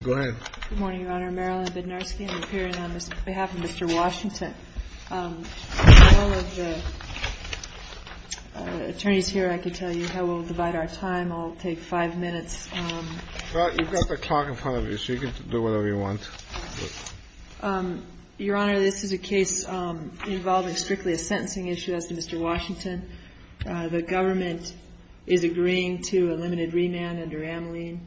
Good morning, Your Honor. Marilyn Bednarski and I'm here on behalf of Mr. Washington. With all of the attorneys here, I can tell you how we'll divide our time. I'll take five minutes. You've got the clock in front of you, so you can do whatever you want. Your Honor, this is a case involving strictly a sentencing issue as to Mr. Washington. The government is agreeing to a limited remand under Ameline.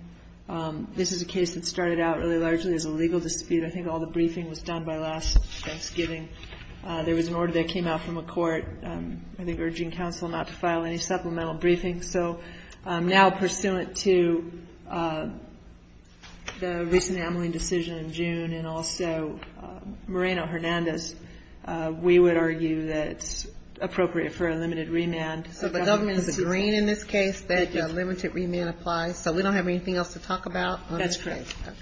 This is a case that started out really largely as a legal dispute. I think all the briefing was done by last Thanksgiving. There was an order that came out from a court, I think urging counsel not to file any supplemental briefings. So now pursuant to the recent Ameline decision in June and also Moreno-Hernandez, we would argue that it's appropriate for a limited remand. So the government is agreeing in this case that a limited remand applies. So we don't have anything else to talk about on this case. That's correct.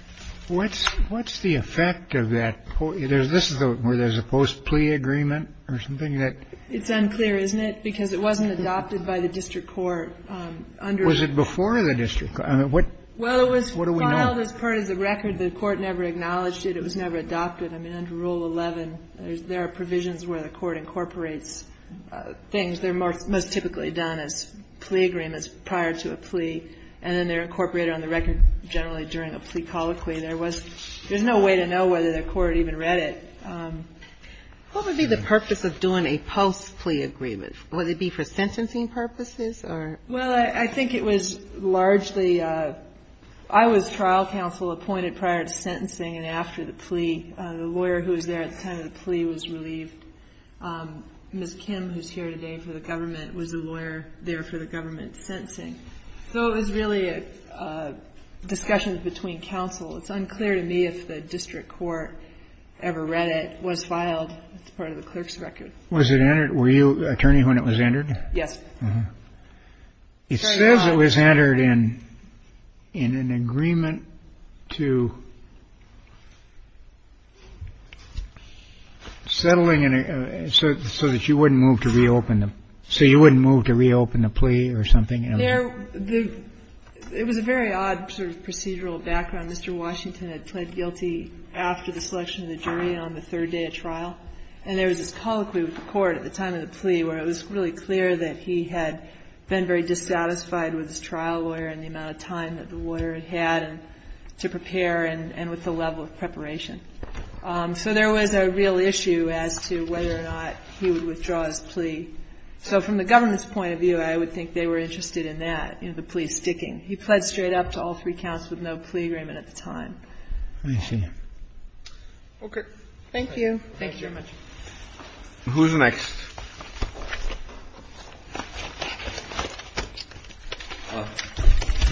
What's the effect of that? This is where there's a post-plea agreement or something? It's unclear, isn't it? Because it wasn't adopted by the district court. Was it before the district court? Well, it was filed as part of the record. The court never acknowledged it. It was never adopted. I mean, under Rule 11, there are provisions where the court incorporates things. They're most typically done as plea agreements prior to a plea. And then they're incorporated on the record generally during a plea colloquy. There was no way to know whether the court even read it. What would be the purpose of doing a post-plea agreement? Would it be for sentencing purposes or? Well, I think it was largely I was trial counsel appointed prior to sentencing and after the plea. The lawyer who was there at the time of the plea was relieved. Ms. Kim, who's here today for the government, was the lawyer there for the government sentencing. So it was really a discussion between counsel. It's unclear to me if the district court ever read it. It was filed as part of the clerk's record. Was it entered? Were you an attorney when it was entered? Yes. It says it was entered in an agreement to settling so that you wouldn't move to reopen the plea or something. It was a very odd sort of procedural background. Mr. Washington had pled guilty after the selection of the jury on the third day of trial. And there was this colloquy with the court at the time of the plea where it was really clear that he had been very dissatisfied with his trial lawyer and the amount of time that the lawyer had to prepare and with the level of preparation. So there was a real issue as to whether or not he would withdraw his plea. So from the government's point of view, I would think they were interested in that, you know, the plea sticking. He pled straight up to all three counts with no plea agreement at the time. I see. Okay. Thank you. Thank you very much. Who's next?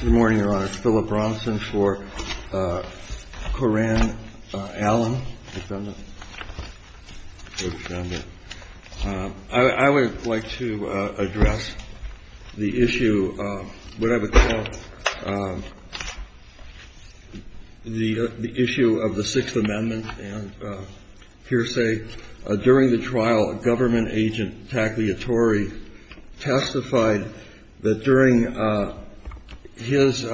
Good morning, Your Honor. Philip Bronson for Coran Allen, defendant. I would like to address the issue of what I would call the issue of the Sixth Amendment and hearsay. During the trial, a government agent, Tackley Attori, testified that during his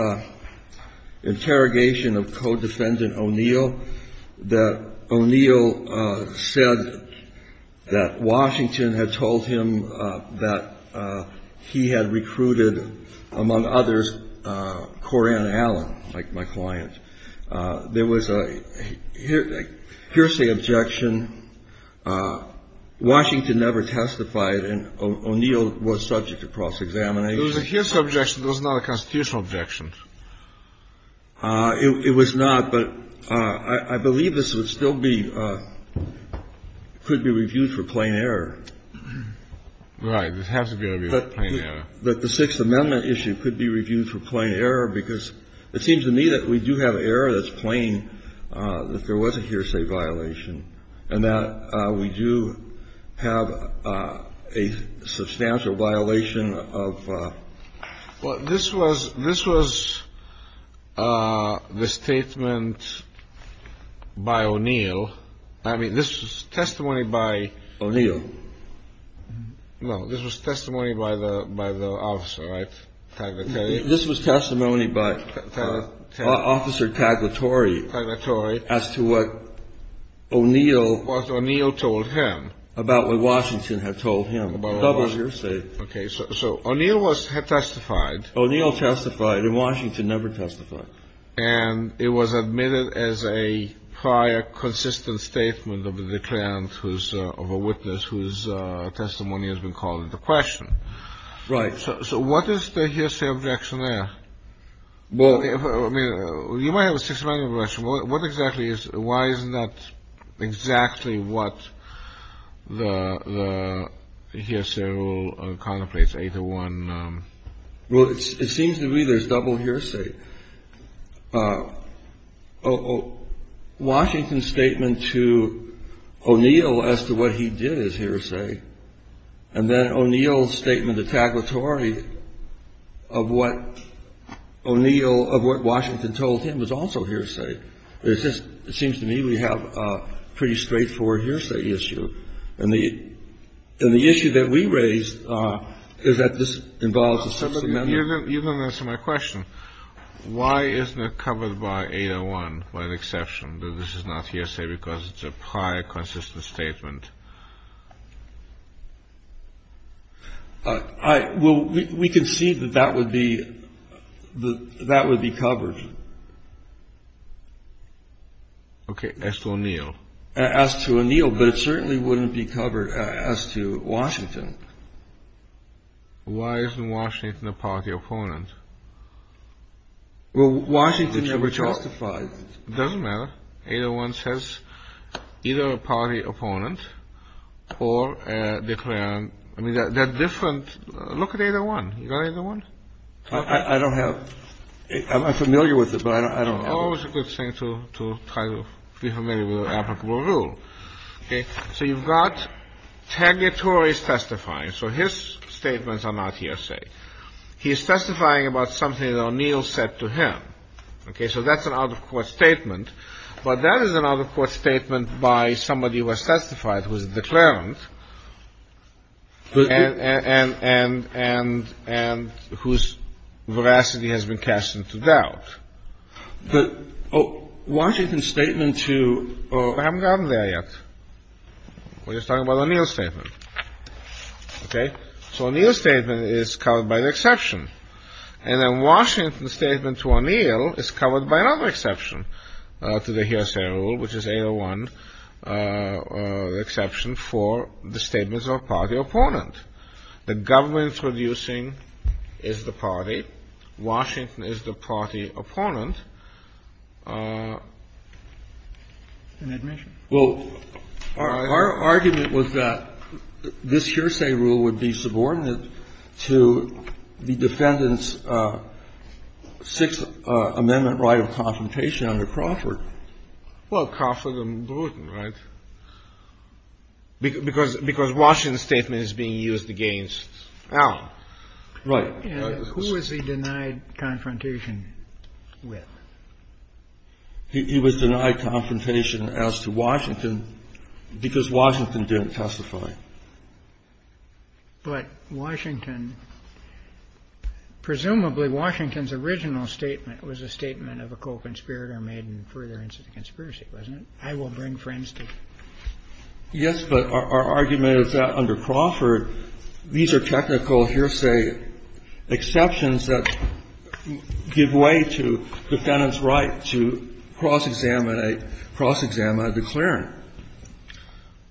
interrogation of co-defendant O'Neill that O'Neill said that Washington had told him that he had recruited, among others, Coran Allen, like my client. There was a hearsay objection. Washington never testified, and O'Neill was subject to cross-examination. There was a hearsay objection. There was not a constitutional objection. It was not, but I believe this would still be – could be reviewed for plain error. Right. It has to be reviewed for plain error. But the Sixth Amendment issue could be reviewed for plain error because it seems to me that we do have error that's plain, that there was a hearsay violation, and that we do have a substantial violation of – Well, this was – this was the statement by O'Neill. I mean, this was testimony by – O'Neill. No. This was testimony by the – by the officer, right, Tackley Attori? This was testimony by Officer Tackley Attori as to what O'Neill – What O'Neill told him. About what Washington had told him. About what Washington – Double hearsay. Okay. So O'Neill was – had testified. O'Neill testified, and Washington never testified. And it was admitted as a prior consistent statement of the declarant who's – of a witness whose testimony has been called into question. Right. So what is the hearsay objection there? Well – I mean, you might have a Sixth Amendment question. What exactly is – why is that exactly what the hearsay rule contemplates 801? Well, it seems to me there's double hearsay. Washington's statement to O'Neill as to what he did is hearsay. And then O'Neill's statement to Tackley Attori of what O'Neill – of what Washington told him was also hearsay. It's just – it seems to me we have a pretty straightforward hearsay issue. And the issue that we raise is that this involves a Sixth Amendment. You don't answer my question. Why isn't it covered by 801, by exception, that this is not hearsay because it's a prior consistent statement? I – well, we concede that that would be – that would be covered. Okay. As to O'Neill. As to O'Neill. But it certainly wouldn't be covered as to Washington. Why isn't Washington a party opponent? Well, Washington never testified. It doesn't matter. 801 says either a party opponent or a declarant. I mean, they're different. Look at 801. You got 801? I don't have – I'm familiar with it, but I don't have it. It's always a good thing to try to be familiar with applicable rule. Okay. So you've got – Tagliatore is testifying. So his statements are not hearsay. He is testifying about something that O'Neill said to him. Okay. So that's an out-of-court statement. But that is an out-of-court statement by somebody who has testified who is a declarant and whose veracity has been cast into doubt. But Washington's statement to – I haven't gotten there yet. We're just talking about O'Neill's statement. Okay. So O'Neill's statement is covered by the exception. And then Washington's statement to O'Neill is covered by another exception to the hearsay rule, which is 801, the exception for the statements of a party opponent. The government introducing is the party. Washington is the party opponent. And admission. Well, our argument was that this hearsay rule would be subordinate to the defendant's Sixth Amendment right of confrontation under Crawford. Well, Crawford and Bluton, right? Because Washington's statement is being used against Allen. Right. And who was he denied confrontation with? He was denied confrontation as to Washington because Washington didn't testify. But Washington – presumably Washington's original statement was a statement of a co-conspirator made in further instance of conspiracy, wasn't it? I will bring friends to you. Yes, but our argument is that under Crawford, these are technical hearsay exceptions that give way to defendant's right to cross-examine a – cross-examine a declarant.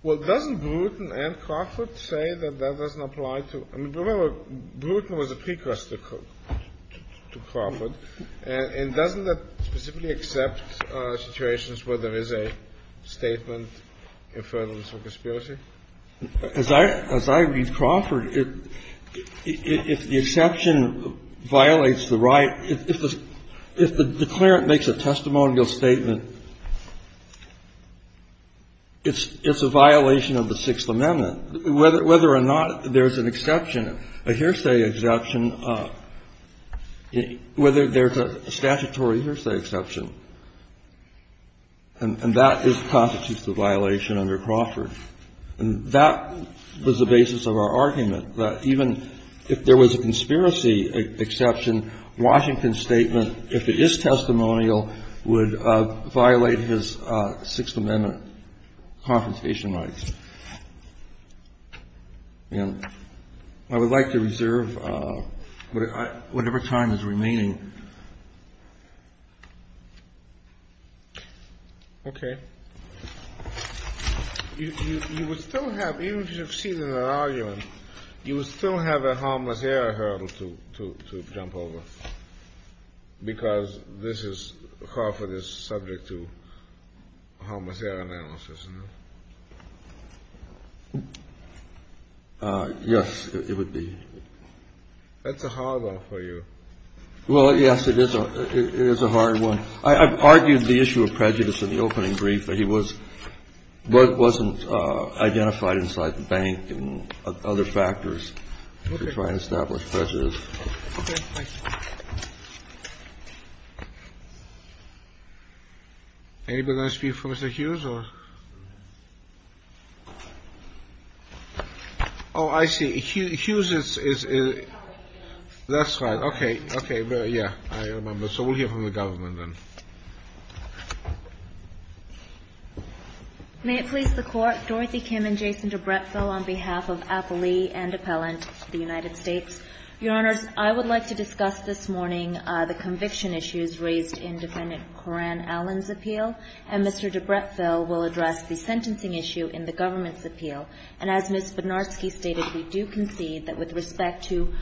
Well, doesn't Bluton and Crawford say that that doesn't apply to – I mean, remember, Bluton was a precursor to Crawford. And doesn't that specifically accept situations where there is a statement in further instance of conspiracy? As I – as I read Crawford, if the exception violates the right – if the declarant makes a testimonial statement, it's a violation of the Sixth Amendment. Whether or not there's an exception, a hearsay exception, whether there's a statutory hearsay exception, and that constitutes the violation under Crawford. And that was the basis of our argument, that even if there was a conspiracy exception, Washington's statement, if it is testimonial, would violate his Sixth Amendment confiscation rights. And I would like to reserve whatever time is remaining. Okay. You would still have – even if you succeeded in an argument, you would still have a harmless error hurdle to jump over, because this is – Crawford is subject to harmless error analysis, isn't it? Yes, it would be. That's a hard one for you. Well, yes, it is. It is a hard one. I've argued the issue of prejudice in the opening brief. He was – wasn't identified inside the bank and other factors to try and establish prejudice. Okay. Thank you. Anybody want to speak for Mr. Hughes? Oh, I see. Hughes is – that's right. Okay. Okay. Yes, I remember. So we'll hear from the government then. May it please the Court, Dorothy Kim and Jason DeBrettville on behalf of Appellee and Appellant to the United States. Your Honors, I would like to discuss this morning the conviction issues raised in Defendant Coran Allen's appeal, and Mr. DeBrettville will address the sentencing issue in the government's appeal. And as Ms. Spodnarski stated, we do concede that with respect to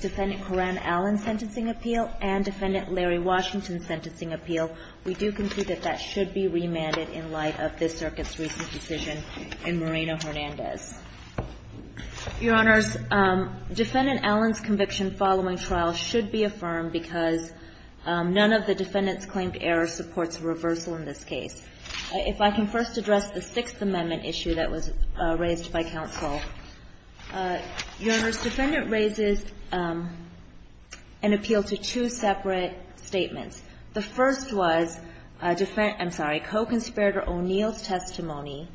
Defendant Coran Allen's sentencing appeal and Defendant Larry Washington's sentencing appeal, we do concede that that should be remanded in light of this Circuit's recent decision in Moreno-Hernandez. Your Honors, Defendant Allen's conviction following trial should be affirmed because none of the defendant's claimed errors supports reversal in this case. If I can first address the Sixth Amendment issue that was raised by counsel. Your Honors, Defendant raises an appeal to two separate statements. The first was – I'm sorry – co-conspirator O'Neill's testimony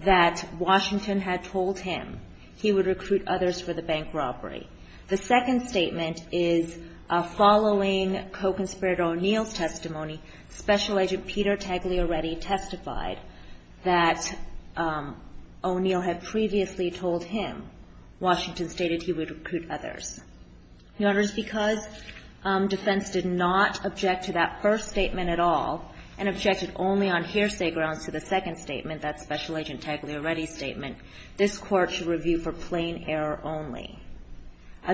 that Washington had told him he would recruit others for the bank robbery. The second statement is following co-conspirator O'Neill's testimony, Special Agent Peter Tagliaredi testified that O'Neill had previously told him Washington stated he would recruit others. Your Honors, because defense did not object to that first statement at all and objected only on hearsay grounds to the second statement, that Special Agent Tagliaredi statement, this Court should review for plain error only.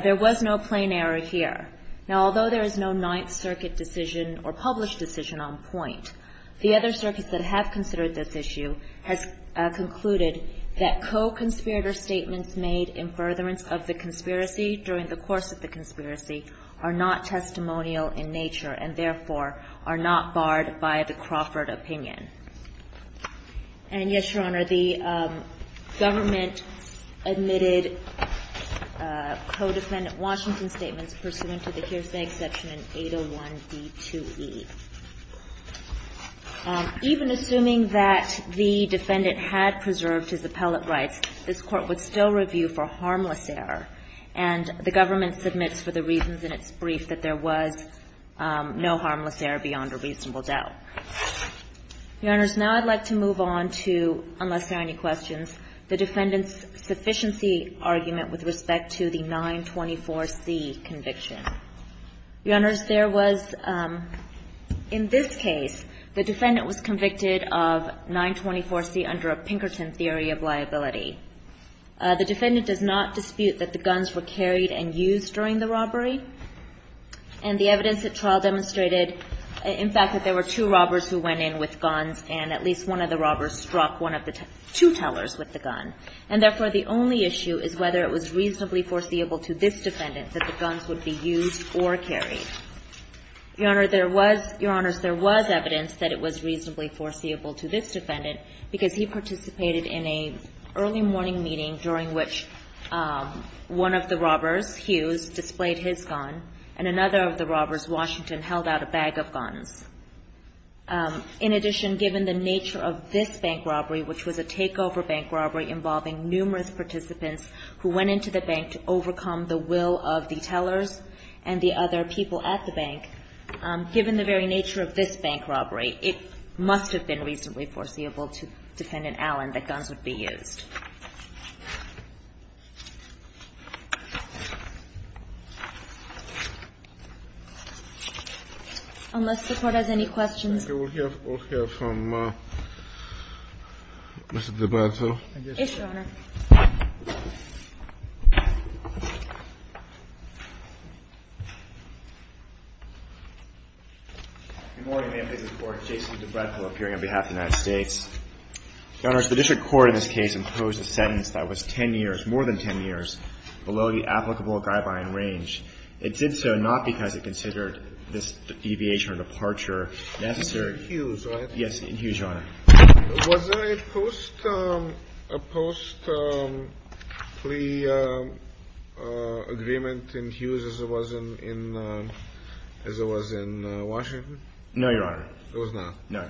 There was no plain error here. Now, although there is no Ninth Circuit decision or published decision on point, the other circuits that have considered this issue has concluded that co-conspirator statements made in furtherance of the conspiracy during the course of the conspiracy are not testimonial in nature and, therefore, are not barred by the Crawford opinion. And, yes, Your Honor, the government admitted co-defendant Washington's statements pursuant to the hearsay exception in 801b2e. Even assuming that the defendant had preserved his appellate rights, this Court would still review for harmless error, and the government submits for the reasons in its brief that there was no harmless error beyond a reasonable doubt. Your Honors, now I'd like to move on to, unless there are any questions, the defendant's 924c conviction. Your Honors, there was, in this case, the defendant was convicted of 924c under a Pinkerton theory of liability. The defendant does not dispute that the guns were carried and used during the robbery, and the evidence at trial demonstrated, in fact, that there were two robbers who went in with guns and at least one of the robbers struck one of the two tellers with the gun. And, therefore, the only issue is whether it was reasonably foreseeable to this defendant that the guns would be used or carried. Your Honors, there was evidence that it was reasonably foreseeable to this defendant because he participated in an early morning meeting during which one of the robbers, Hughes, displayed his gun, and another of the robbers, Washington, held out a bag of guns. In addition, given the nature of this bank robbery, which was a takeover bank robbery involving numerous participants who went into the bank to overcome the will of the tellers and the other people at the bank, given the very nature of this bank robbery, it must have been reasonably foreseeable to Defendant Allen that guns would be used. Unless the Court has any questions. Okay. We'll hear from Mr. DeBretto. Yes, Your Honor. Good morning, Ma'am. This is Court. Jason DeBretto appearing on behalf of the United The court in this case proposed a sentence that was 10 years, more than 10 years, below the applicable guideline range. It did so not because it considered this deviation or departure necessary. Yes, in Hughes, Your Honor. Was there a post-plea agreement in Hughes as it was in Washington? No, Your Honor. There was not? No.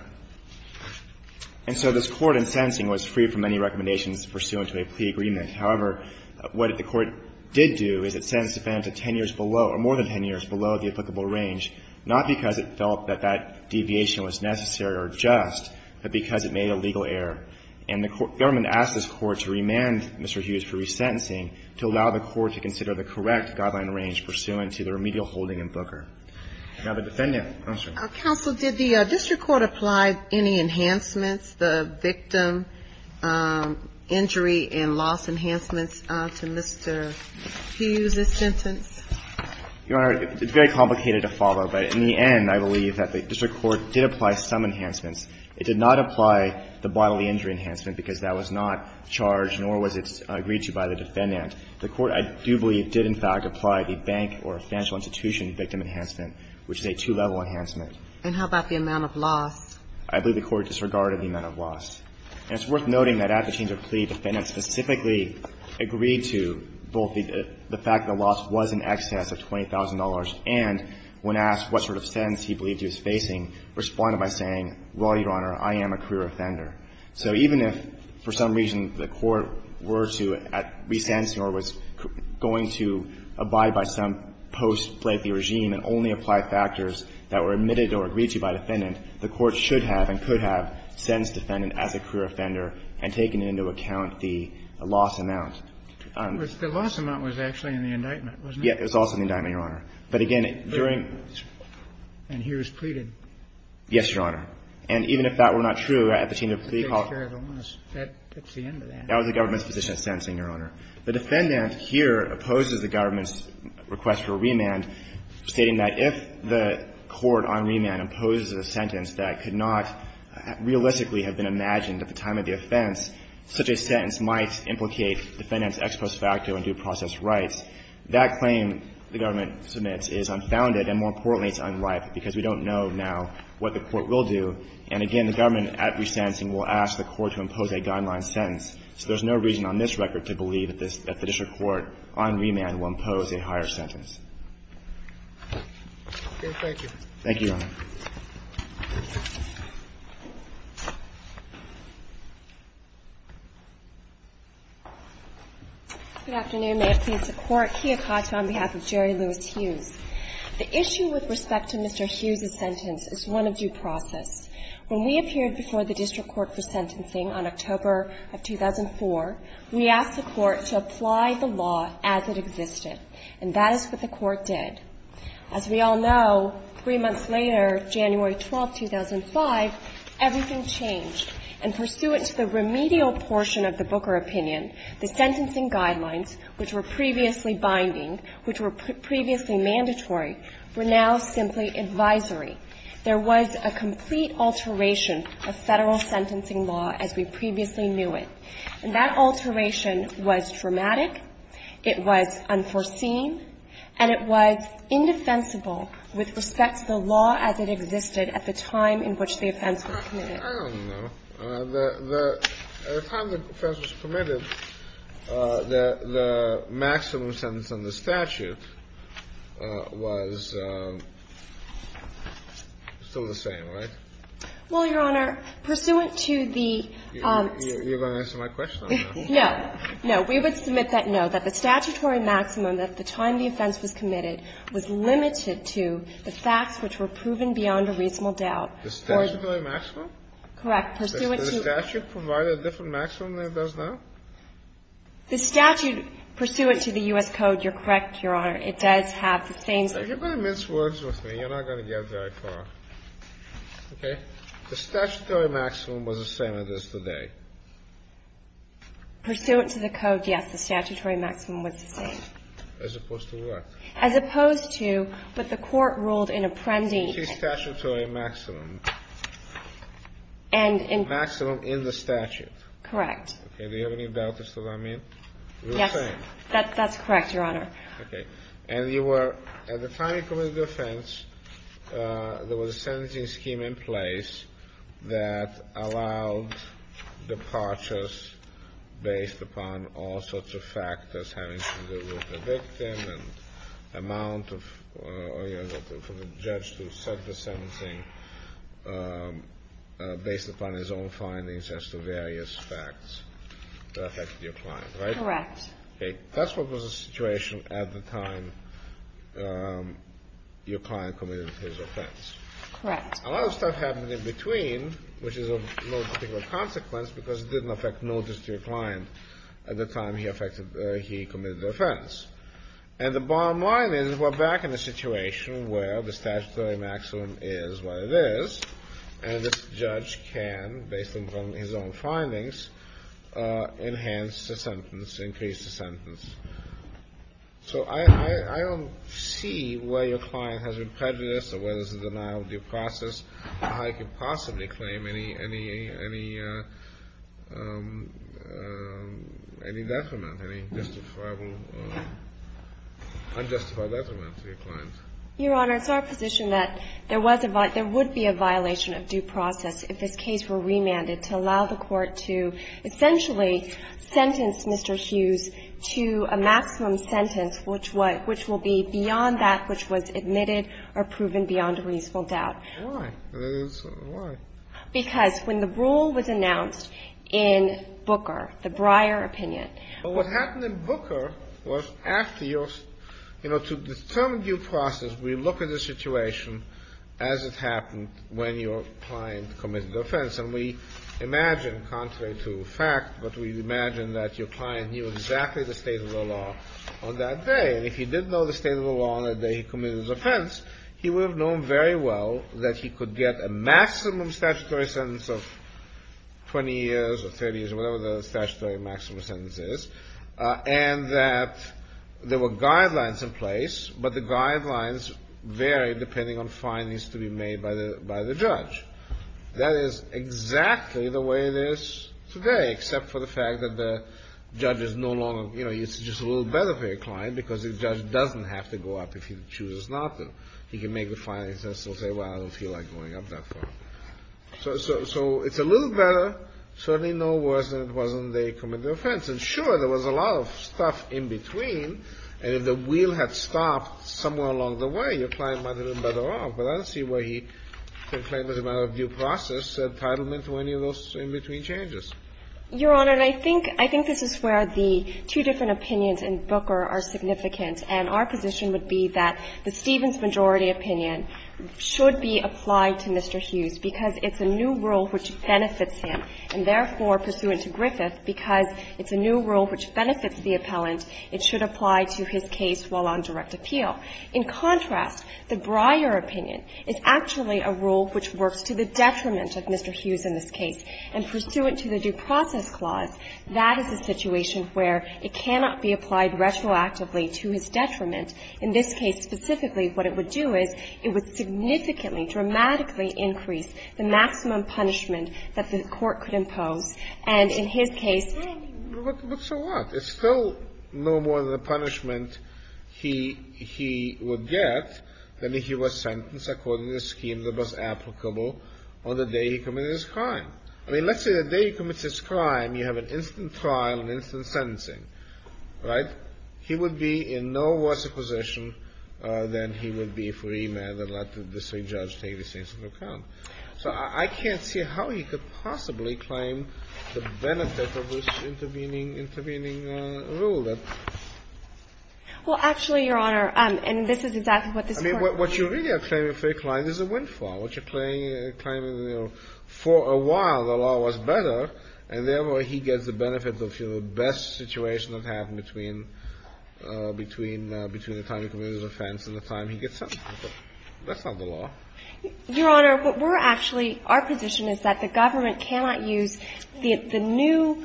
And so this Court in sentencing was free from any recommendations pursuant to a plea agreement. However, what the Court did do is it sentenced Defendant to 10 years below or more than 10 years below the applicable range, not because it felt that that deviation was necessary or just, but because it made a legal error. And the Government asked this Court to remand Mr. Hughes for resentencing to allow the Court to consider the correct guideline range pursuant to the remedial holding in Booker. Now, the Defendant. Counsel. Counsel, did the district court apply any enhancements, the victim injury and loss enhancements to Mr. Hughes' sentence? Your Honor, it's very complicated to follow, but in the end, I believe that the district court did apply some enhancements. It did not apply the bodily injury enhancement because that was not charged nor was it agreed to by the Defendant. The Court, I do believe, did in fact apply the bank or financial institution victim enhancement, which is a two-level enhancement. And how about the amount of loss? I believe the Court disregarded the amount of loss. And it's worth noting that at the change of plea, Defendant specifically agreed to both the fact that the loss was in excess of $20,000 and when asked what sort of sentence he believed he was facing, responded by saying, well, Your Honor, I am a career offender. So even if for some reason the Court were to resent or was going to abide by some post-plaintiff regime and only apply factors that were admitted or agreed to by Defendant, the Court should have and could have sentenced Defendant as a career offender and taken into account the loss amount. The loss amount was actually in the indictment, wasn't it? Yes. It was also in the indictment, Your Honor. But again, during... And he was pleaded. Yes, Your Honor. And even if that were not true, at the change of plea call... That's the end of that. That was the government's position of sentencing, Your Honor. The Defendant here opposes the government's request for remand, stating that if the court on remand imposes a sentence that could not realistically have been imagined at the time of the offense, such a sentence might implicate Defendant's ex post facto and due process rights. That claim, the government submits, is unfounded and more importantly, it's unlikely because we don't know now what the Court will do. And again, the government at resentencing will ask the Court to impose a guideline sentence. So there's no reason on this record to believe that the district court on remand will impose a higher sentence. Okay. Thank you. Thank you, Your Honor. Good afternoon. May it please the Court. Kia Kato on behalf of Jerry Lewis Hughes. The issue with respect to Mr. Hughes's sentence is one of due process. When we appeared before the district court for sentencing on October of 2004, we asked the Court to apply the law as it existed. And that is what the Court did. As we all know, three months later, January 12, 2005, everything changed. And pursuant to the remedial portion of the Booker opinion, the sentencing guidelines, which were previously binding, which were previously mandatory, were now simply advisory. There was a complete alteration of federal sentencing law as we previously knew it. And that alteration was traumatic. It was unforeseen. And it was indefensible with respect to the law as it existed at the time in which the offense was committed. I don't know. The time the offense was permitted, the maximum sentence on the statute was still the same, right? Well, Your Honor, pursuant to the ---- You're going to answer my question, aren't you? No. We would submit that no, that the statutory maximum at the time the offense was committed was limited to the facts which were proven beyond a reasonable doubt. The statutory maximum? Correct. Pursuant to ---- Does the statute provide a different maximum than it does now? The statute pursuant to the U.S. Code, You're correct, Your Honor. It does have the same ---- You're going to mince words with me. You're not going to get very far. Okay? The statutory maximum was the same as it is today. Pursuant to the Code, yes, the statutory maximum was the same. As opposed to what? As opposed to what the Court ruled in Apprendi. The statutory maximum. And in ---- Maximum in the statute. Correct. Okay. Do you have any doubt as to what I mean? Yes. You're saying? That's correct, Your Honor. Okay. And you were, at the time you committed the offense, there was a sentencing scheme in place that allowed departures based upon all sorts of factors having to do with the victim and amount of ---- for the judge to set the sentencing based upon his own findings as to various facts that affected your client, right? Correct. Okay. That's what was the situation at the time your client committed his offense. Correct. A lot of stuff happened in between, which is of no particular consequence because it didn't affect notice to your client at the time he affected, he committed the offense. And the bottom line is we're back in a situation where the statutory maximum is what it is, and this judge can, based on his own findings, enhance the sentence, increase the sentence. So I don't see where your client has been prejudiced or where there's a denial of due process, or how you could possibly claim any, any, any, any detriment, any justifiable, unjustifiable detriment to your client. Your Honor, it's our position that there was a ---- there would be a violation of due process if this case were remanded to allow the court to essentially sentence Mr. Hughes to a maximum sentence which would, which will be beyond that which was admitted or proven beyond a reasonable doubt. Why? Why? Because when the rule was announced in Booker, the Breyer opinion ---- But what happened in Booker was after your, you know, to determine due process, we look at the situation as it happened when your client committed the offense. And we imagine, contrary to fact, but we imagine that your client knew exactly the state of the law on that day. And if he did know the state of the law on the day he committed his offense, he would have known very well that he could get a maximum statutory sentence of 20 years or 30 years or whatever the statutory maximum sentence is, and that there were guidelines in place, but the guidelines vary depending on findings to be made by the, by the judge. That is exactly the way it is today, except for the fact that the judge is no longer, you know, it's just a little better for your client because the judge doesn't have to go up if he chooses not to. He can make the findings and still say, well, I don't feel like going up that far. So it's a little better, certainly no worse than it was on the day he committed the offense. And sure, there was a lot of stuff in between, and if the wheel had stopped somewhere along the way, your client might have been better off. But I don't see why he could claim as a matter of due process entitlement to any of those in-between changes. Your Honor, I think, I think this is where the two different opinions in Booker are significant, and our position would be that the Stevens majority opinion should be applied to Mr. Hughes because it's a new rule which benefits him, and therefore, pursuant to Griffith, because it's a new rule which benefits the appellant, it should apply to his case while on direct appeal. In contrast, the Breyer opinion is actually a rule which works to the detriment of Mr. Hughes in this case, and pursuant to the due process clause, that is a situation where it cannot be applied retroactively to his detriment. In this case specifically, what it would do is it would significantly, dramatically increase the maximum punishment that the court could impose, and in his case ---- But it's still no more than the punishment he would get than if he was sentenced according to the scheme that was applicable on the day he committed his crime. I mean, let's say the day he commits his crime, you have an instant trial and instant sentencing, right? He would be in no worse a position than he would be for a man that let the state judge take his case into account. So I can't see how he could possibly claim the benefit of this intervening rule that ---- Well, actually, Your Honor, and this is exactly what this Court ---- I mean, what you really are claiming for your client is a windfall. What you're claiming, you know, for a while the law was better, and therefore he gets the benefit of, you know, the best situation that happened between the time he committed his offense and the time he gets sentenced. That's not the law. Your Honor, what we're actually ---- our position is that the government cannot use the new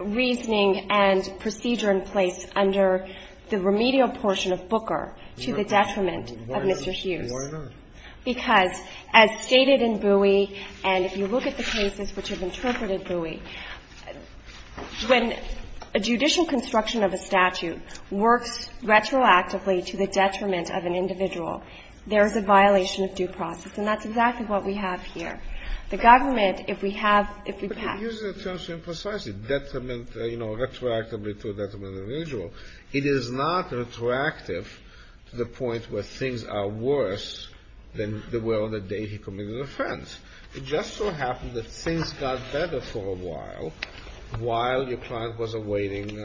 reasoning and procedure in place under the remedial portion of Booker to the detriment of Mr. Hughes. Why not? Because as stated in Bowie, and if you look at the cases which have interpreted Bowie, when a judicial construction of a statute works retroactively to the detriment of an individual, there is a violation of due process. And that's exactly what we have here. The government, if we have ---- But you're using the term too imprecisely, detriment, you know, retroactively to a detriment of an individual. It is not retroactive to the point where things are worse than they were on the day he committed the offense. It just so happened that things got better for a while, while your client was awaiting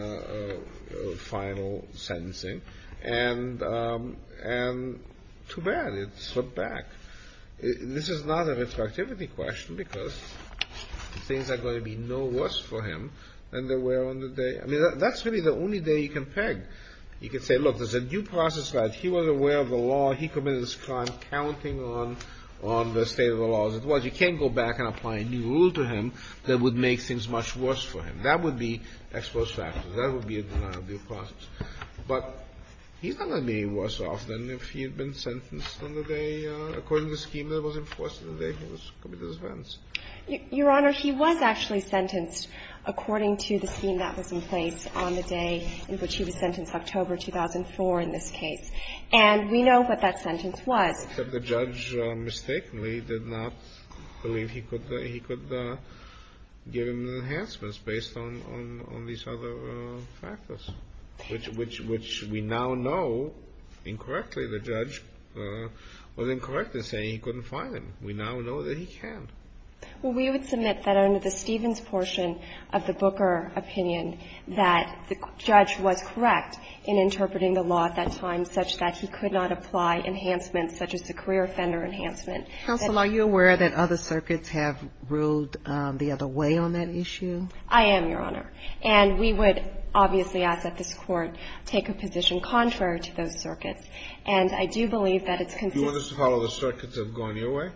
final sentencing, and too bad, it slipped back. This is not a retroactivity question because things are going to be no worse for him than they were on the day. I mean, that's really the only day you can peg. You can say, look, there's a due process right. He was aware of the law. He committed this crime, counting on the state of the law as it was. You can't go back and apply a new rule to him that would make things much worse for him. That would be ex post facto. That would be a denial of due process. But he's not going to be any worse off than if he had been sentenced on the day according to the scheme that was enforced on the day he was committed the offense. Your Honor, he was actually sentenced according to the scheme that was in place on the day in which he was sentenced, October 2004 in this case. And we know what that sentence was. But the judge mistakenly did not believe he could give him enhancements based on these other factors, which we now know incorrectly. The judge was incorrect in saying he couldn't find him. We now know that he can. Well, we would submit that under the Stevens portion of the Booker opinion that the judge was correct in interpreting the law at that time such that he could not apply enhancements such as the career offender enhancement. Counsel, are you aware that other circuits have ruled the other way on that issue? I am, Your Honor. And we would obviously ask that this Court take a position contrary to those circuits. And I do believe that it's consistent. Do you want us to follow the circuits that have gone your way?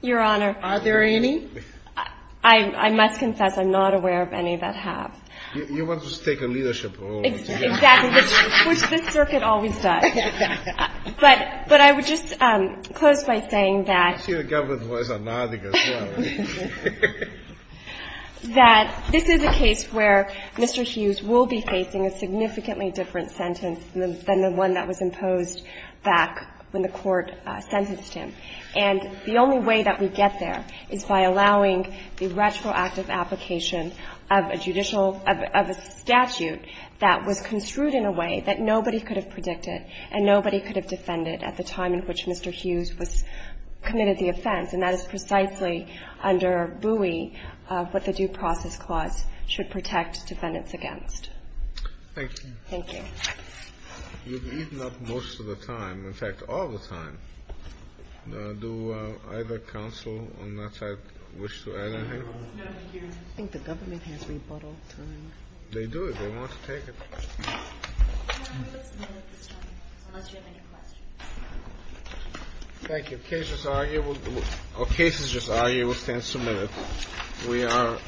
Your Honor. Are there any? I must confess I'm not aware of any that have. You want us to take a leadership role. Exactly. Which this circuit always does. But I would just close by saying that. I see the government voice is nodding as well. That this is a case where Mr. Hughes will be facing a significantly different sentence than the one that was imposed back when the Court sentenced him. And the only way that we get there is by allowing the retroactive application of a judicial of a statute that was construed in a way that nobody could have predicted and nobody could have defended at the time in which Mr. Hughes was committed the offense. And that is precisely under BUI what the due process clause should protect defendants Thank you. Thank you. You've eaten up most of the time, in fact, all the time. Do either counsel on that side wish to add anything? No, thank you. I think the government has rebuttal time. They do. They want to take it. Can I move this amendment this time, unless you have any questions? Thank you. The case is just arguable. The case is just arguable. It stands submitted. We are adjourned.